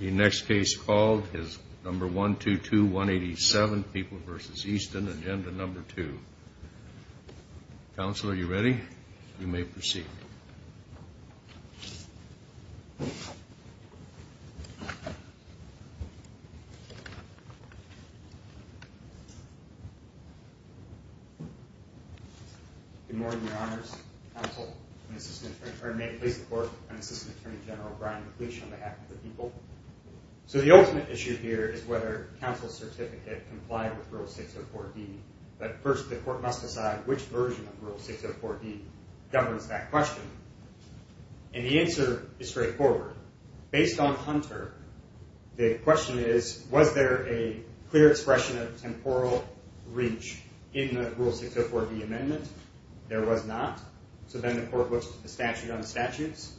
The next case called is No. 122187, People v. Easton, Agenda No. 2. Counsel, are you ready? You may proceed. Good morning, Your Honors. May it please the Court, I'm Assistant Attorney General Brian McLeish on behalf of the people. So the ultimate issue here is whether counsel's certificate complied with Rule 604D. But first, the Court must decide which version of Rule 604D governs that question. And the answer is straightforward. Based on Hunter, the question is, was there a clear expression of temporal reach in the Rule 604D amendment? There was not. So then the Court looks at the statute on the statutes.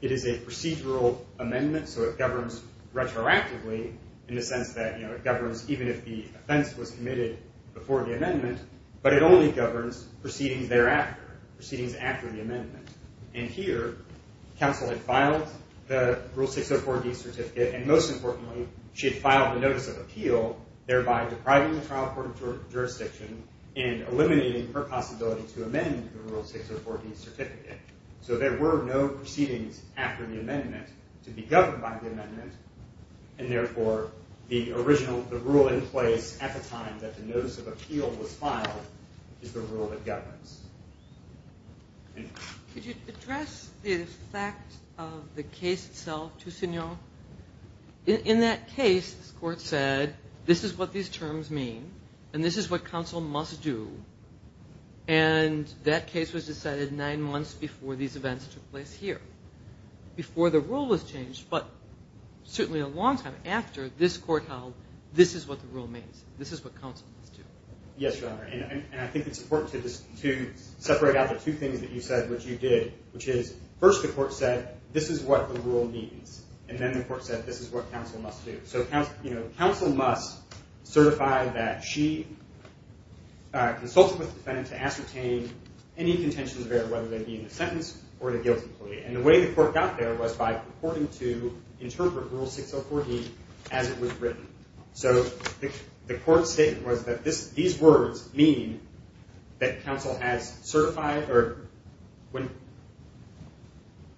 It is a procedural amendment, so it governs retroactively, in the sense that it governs even if the offense was committed before the amendment, but it only governs proceedings thereafter, proceedings after the amendment. And here, counsel had filed the Rule 604D certificate, and most importantly, she had filed a notice of appeal, thereby depriving the trial court of jurisdiction and eliminating her possibility to amend the Rule 604D certificate. So there were no proceedings after the amendment to be governed by the amendment, and therefore the original rule in place at the time that the notice of appeal was filed is the rule that governs. Could you address the effect of the case itself to Signore? In that case, the Court said, this is what these terms mean, and this is what counsel must do, and that case was decided nine months before these events took place here, before the rule was changed, but certainly a long time after this court held, this is what the rule means, this is what counsel must do. Yes, Your Honor, and I think it's important to separate out the two things that you said, which you did, which is, first the Court said, this is what the rule means, and then the Court said, this is what counsel must do. So counsel must certify that she consulted with the defendant to ascertain any contentions there, whether they be in the sentence or the guilty plea. And the way the Court got there was by purporting to interpret Rule 604D as it was written. So the Court's statement was that these words mean that counsel has certified, or when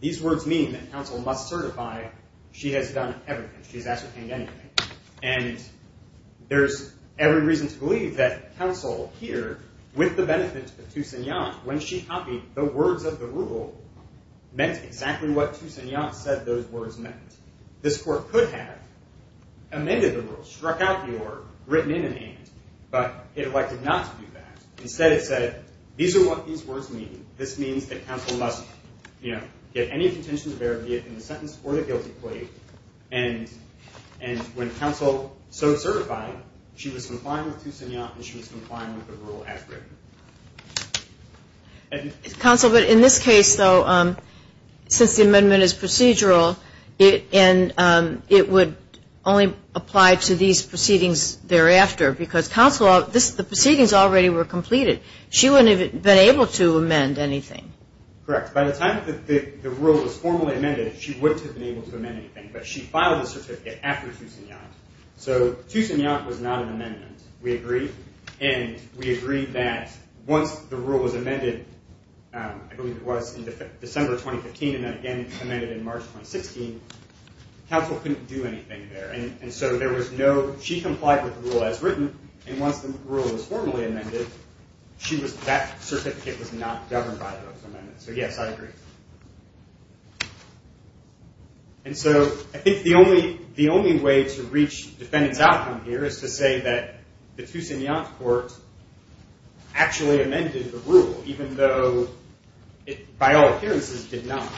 these words mean that counsel must certify, she has done everything, she has ascertained anything. And there's every reason to believe that counsel here, with the benefit to Signore, when she copied the words of the rule, meant exactly what Toussignant said those words meant. This Court could have amended the rule, struck out the order, written it in hand, but it elected not to do that. Instead it said, these are what these words mean. This means that counsel must, you know, get any contentions there, be it in the sentence or the guilty plea, and when counsel so certified, she was complying with Toussignant and she was complying with the rule as written. Counsel, but in this case, though, since the amendment is procedural, and it would only apply to these proceedings thereafter, because the proceedings already were completed. She wouldn't have been able to amend anything. Correct. By the time that the rule was formally amended, she wouldn't have been able to amend anything, but she filed the certificate after Toussignant. So Toussignant was not an amendment. We agree. And we agree that once the rule was amended, I believe it was in December 2015, and then again amended in March 2016, counsel couldn't do anything there. And so there was no, she complied with the rule as written, and once the rule was formally amended, that certificate was not governed by those amendments. So yes, I agree. And so I think the only way to reach defendant's outcome here is to say that the Toussignant court actually amended the rule, even though it, by all appearances, did not.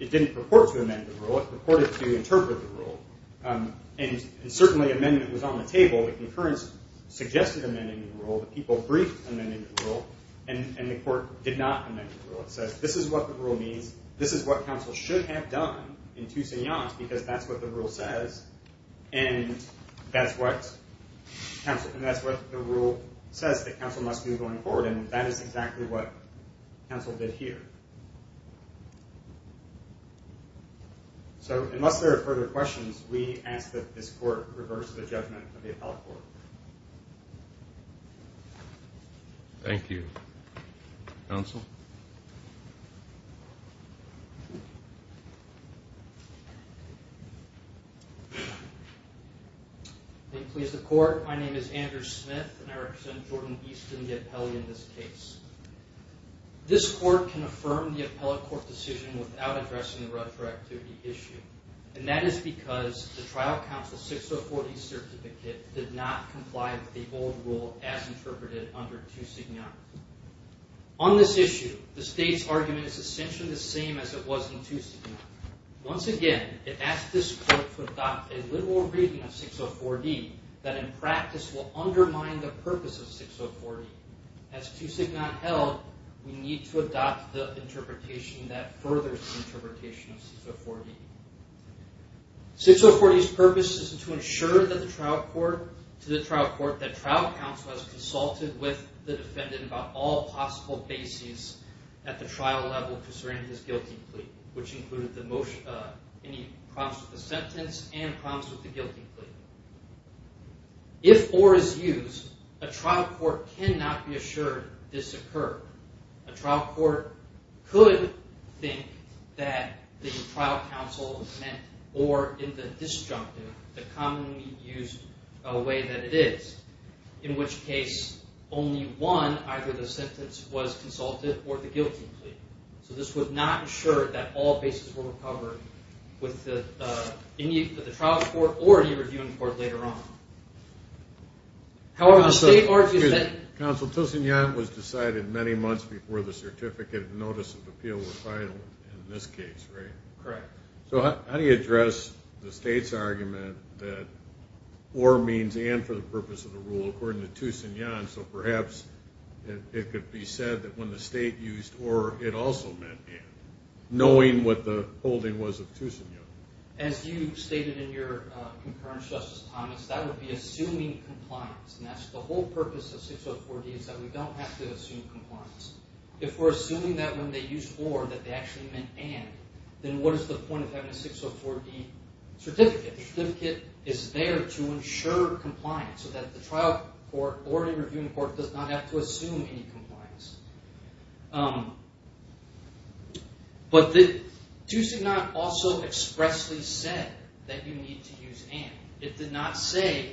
It didn't purport to amend the rule. It purported to interpret the rule. And certainly amendment was on the table. The concurrence suggested amending the rule. The people briefed amending the rule, and the court did not amend the rule. It says this is what the rule means, this is what counsel should have done in Toussignant, because that's what the rule says, and that's what the rule says that counsel must do going forward, and that is exactly what counsel did here. So unless there are further questions, we ask that this court reverse the judgment of the appellate court. Thank you. Counsel? Thank you, please, the court. My name is Andrew Smith, and I represent Jordan Easton, the appellee in this case. This court can affirm the appellate court decision without addressing the retroactivity issue, and that is because the trial counsel 604D certificate did not comply with the old rule as interpreted under Toussignant. On this issue, the state's argument is essentially the same as it was in Toussignant. Once again, it asks this court to adopt a literal reading of 604D that in practice will undermine the purpose of 604D. As Toussignant held, we need to adopt the interpretation that furthers the interpretation of 604D. 604D's purpose is to ensure to the trial court that trial counsel has consulted with the defendant about all possible bases at the trial level concerning his guilty plea, which included any problems with the sentence and problems with the guilty plea. If or is used, a trial court cannot be assured this occurred. A trial court could think that the trial counsel meant or in the disjunctive, the commonly used way that it is, in which case only one, either the sentence was consulted or the guilty plea. So this would not ensure that all bases were recovered with the trial court or any reviewing court later on. Counsel, Toussignant was decided many months before the certificate of notice of appeal was final in this case, right? Correct. So how do you address the state's argument that or means and for the purpose of the rule according to Toussignant, so perhaps it could be said that when the state used or, it also meant and, knowing what the holding was of Toussignant. As you stated in your concurrence, Justice Thomas, that would be assuming compliance, and that's the whole purpose of 604D is that we don't have to assume compliance. If we're assuming that when they used or that they actually meant and, then what is the point of having a 604D certificate? The certificate is there to ensure compliance so that the trial court or any reviewing court does not have to assume any compliance. But Toussignant also expressly said that you need to use and. It did not say,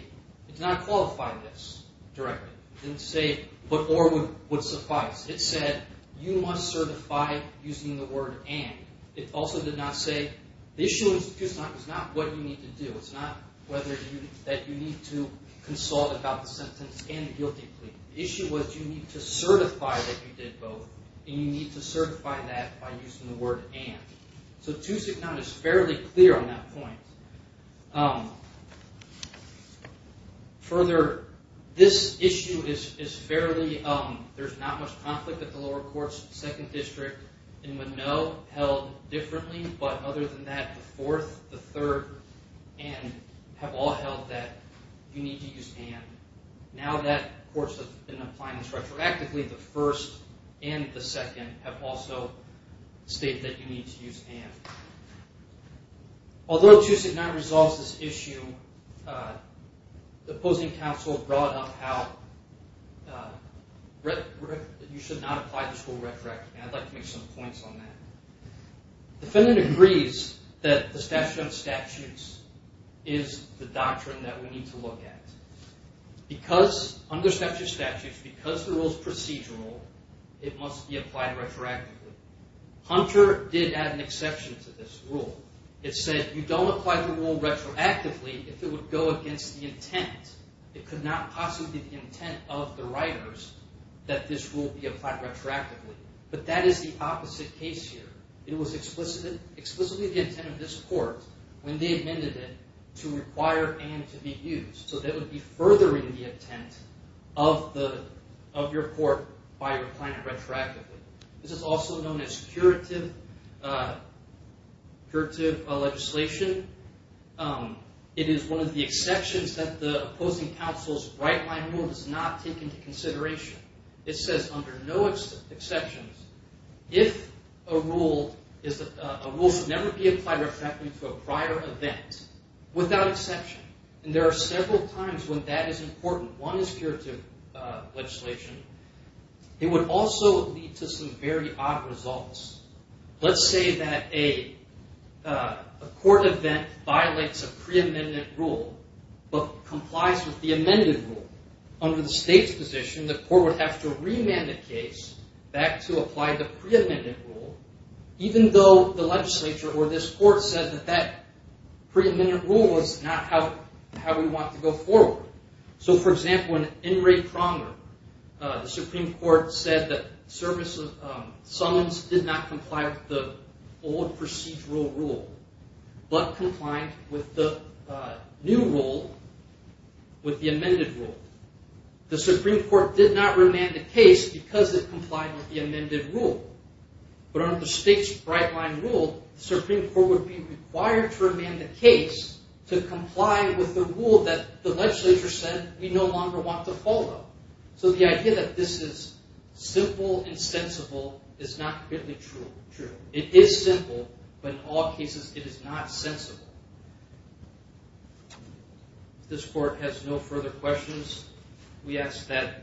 it did not qualify this directly. It didn't say but or would suffice. It said you must certify using the word and. It also did not say, the issue with Toussignant is not what you need to do. It's not whether you, that you need to consult about the sentence and the guilty plea. The issue was you need to certify that you did both, and you need to certify that by using the word and. So Toussignant is fairly clear on that point. Further, this issue is fairly, there's not much conflict at the lower courts, second district. In Moneau, held differently, but other than that, the fourth, the third, and have all held that you need to use and. Now that courts have been applying this retroactively, the first and the second have also stated that you need to use and. Although Toussignant resolves this issue, the opposing counsel brought up how you should not apply the school retroactively. And I'd like to make some points on that. The defendant agrees that the statute of statutes is the doctrine that we need to look at. Because, under statute of statutes, because the rule is procedural, it must be applied retroactively. Hunter did add an exception to this rule. It said you don't apply the rule retroactively if it would go against the intent. It could not possibly be the intent of the writers that this rule be applied retroactively. But that is the opposite case here. It was explicitly the intent of this court when they amended it to require and to be used. So that would be furthering the intent of your court by applying it retroactively. This is also known as curative legislation. It is one of the exceptions that the opposing counsel's right-line rule does not take into consideration. It says under no exceptions, if a rule should never be applied retroactively to a prior event without exception. And there are several times when that is important. One is curative legislation. It would also lead to some very odd results. Let's say that a court event violates a pre-amendment rule but complies with the amended rule. Under the state's position, the court would have to remand the case back to apply the pre-amendment rule even though the legislature or this court said that that pre-amendment rule was not how we want to go forward. So for example, in Enright-Pronger, the Supreme Court said that Summons did not comply with the old procedural rule but complied with the new rule, with the amended rule. The Supreme Court did not remand the case because it complied with the amended rule. But under the state's right-line rule, the Supreme Court would be required to remand the case to comply with the rule that the legislature said we no longer want to follow. So the idea that this is simple and sensible is not really true. It is simple, but in all cases, it is not sensible. If this court has no further questions, we ask that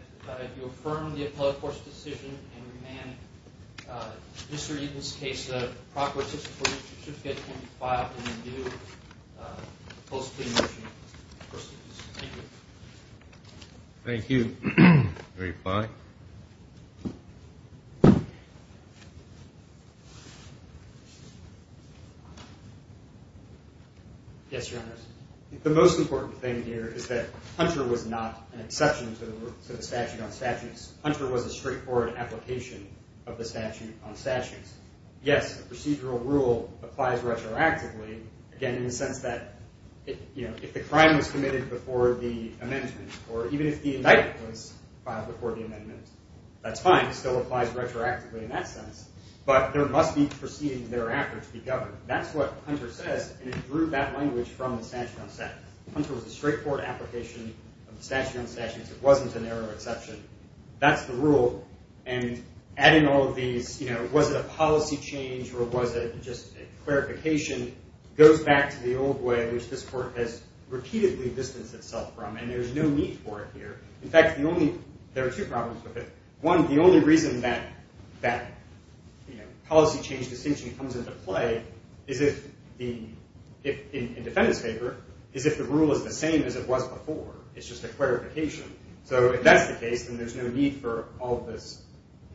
you affirm the appellate court's decision and remand Mr. Eden's case. The Proc. 64-25 can be filed in due post-plea motion. Thank you. Thank you. Are we fine? Yes, Your Honors. The most important thing here is that Hunter was not an exception to the statute on statutes. Hunter was a straightforward application of the statute on statutes. Yes, the procedural rule applies retroactively, again, in the sense that if the crime was committed before the amendment or even if the indictment was filed before the amendment, that's fine. It still applies retroactively in that sense. But there must be proceedings thereafter to be governed. That's what Hunter says, and it drew that language from the statute on statutes. Hunter was a straightforward application of the statute on statutes. It wasn't a narrow exception. That's the rule. And adding all of these, you know, was it a policy change or was it just a clarification, goes back to the old way in which this court has repeatedly distanced itself from. And there's no need for it here. In fact, there are two problems with it. One, the only reason that, you know, policy change distinction comes into play in defendant's favor is if the rule is the same as it was before. It's just a clarification. So if that's the case, then there's no need for all of this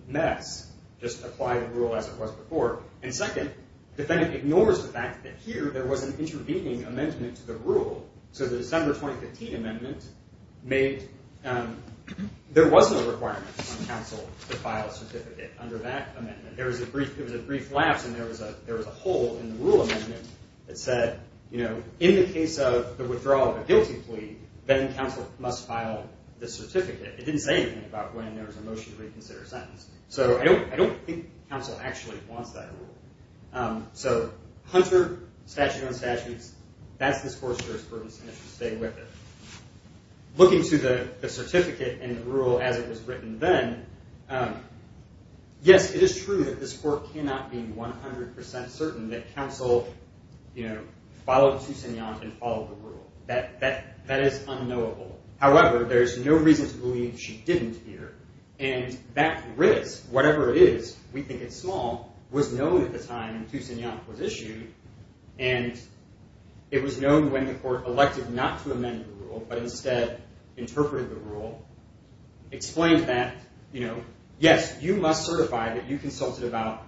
mess. Just apply the rule as it was before. And second, defendant ignores the fact that here there was an intervening amendment to the rule. So the December 2015 amendment made there wasn't a requirement on counsel to file a certificate under that amendment. It was a brief lapse, and there was a hole in the rule amendment that said, you know, in the case of the withdrawal of a guilty plea, then counsel must file the certificate. It didn't say anything about when there was a motion to reconsider a sentence. So I don't think counsel actually wants that rule. So Hunter, statute on statutes, that's this court's jurisprudence, and it should stay with it. Looking to the certificate and the rule as it was written then, yes, it is true that this court cannot be 100 percent certain that counsel, you know, followed Toussignant and followed the rule. That is unknowable. However, there's no reason to believe she didn't either. And that risk, whatever it is, we think it's small, was known at the time Toussignant was issued, and it was known when the court elected not to amend the rule but instead interpreted the rule, explained that, you know, yes, you must certify that you consulted about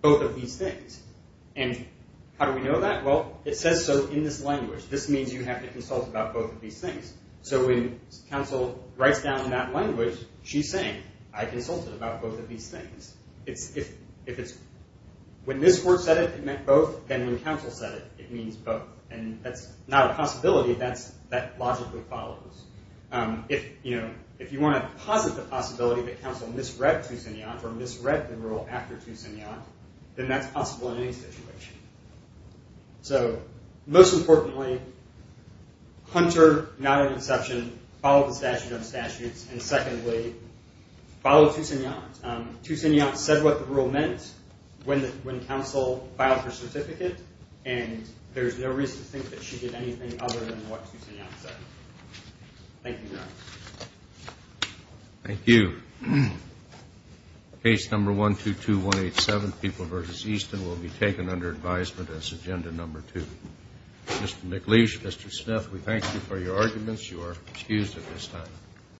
both of these things. And how do we know that? Well, it says so in this language. This means you have to consult about both of these things. So when counsel writes down in that language, she's saying, I consulted about both of these things. If it's when this court said it, it meant both, then when counsel said it, it means both. And that's not a possibility. That logically follows. If, you know, if you want to posit the possibility that counsel misread Toussignant or misread the rule after Toussignant, then that's possible in any situation. So most importantly, Hunter, not an exception, followed the statute of statutes. And secondly, followed Toussignant. Toussignant said what the rule meant when counsel filed her certificate, and there's no reason to think that she did anything other than what Toussignant said. Thank you, Your Honor. Thank you. Case number 122187, People v. Easton, will be taken under advisement as agenda number two. Mr. McLeish, Mr. Smith, we thank you for your arguments. You are excused at this time.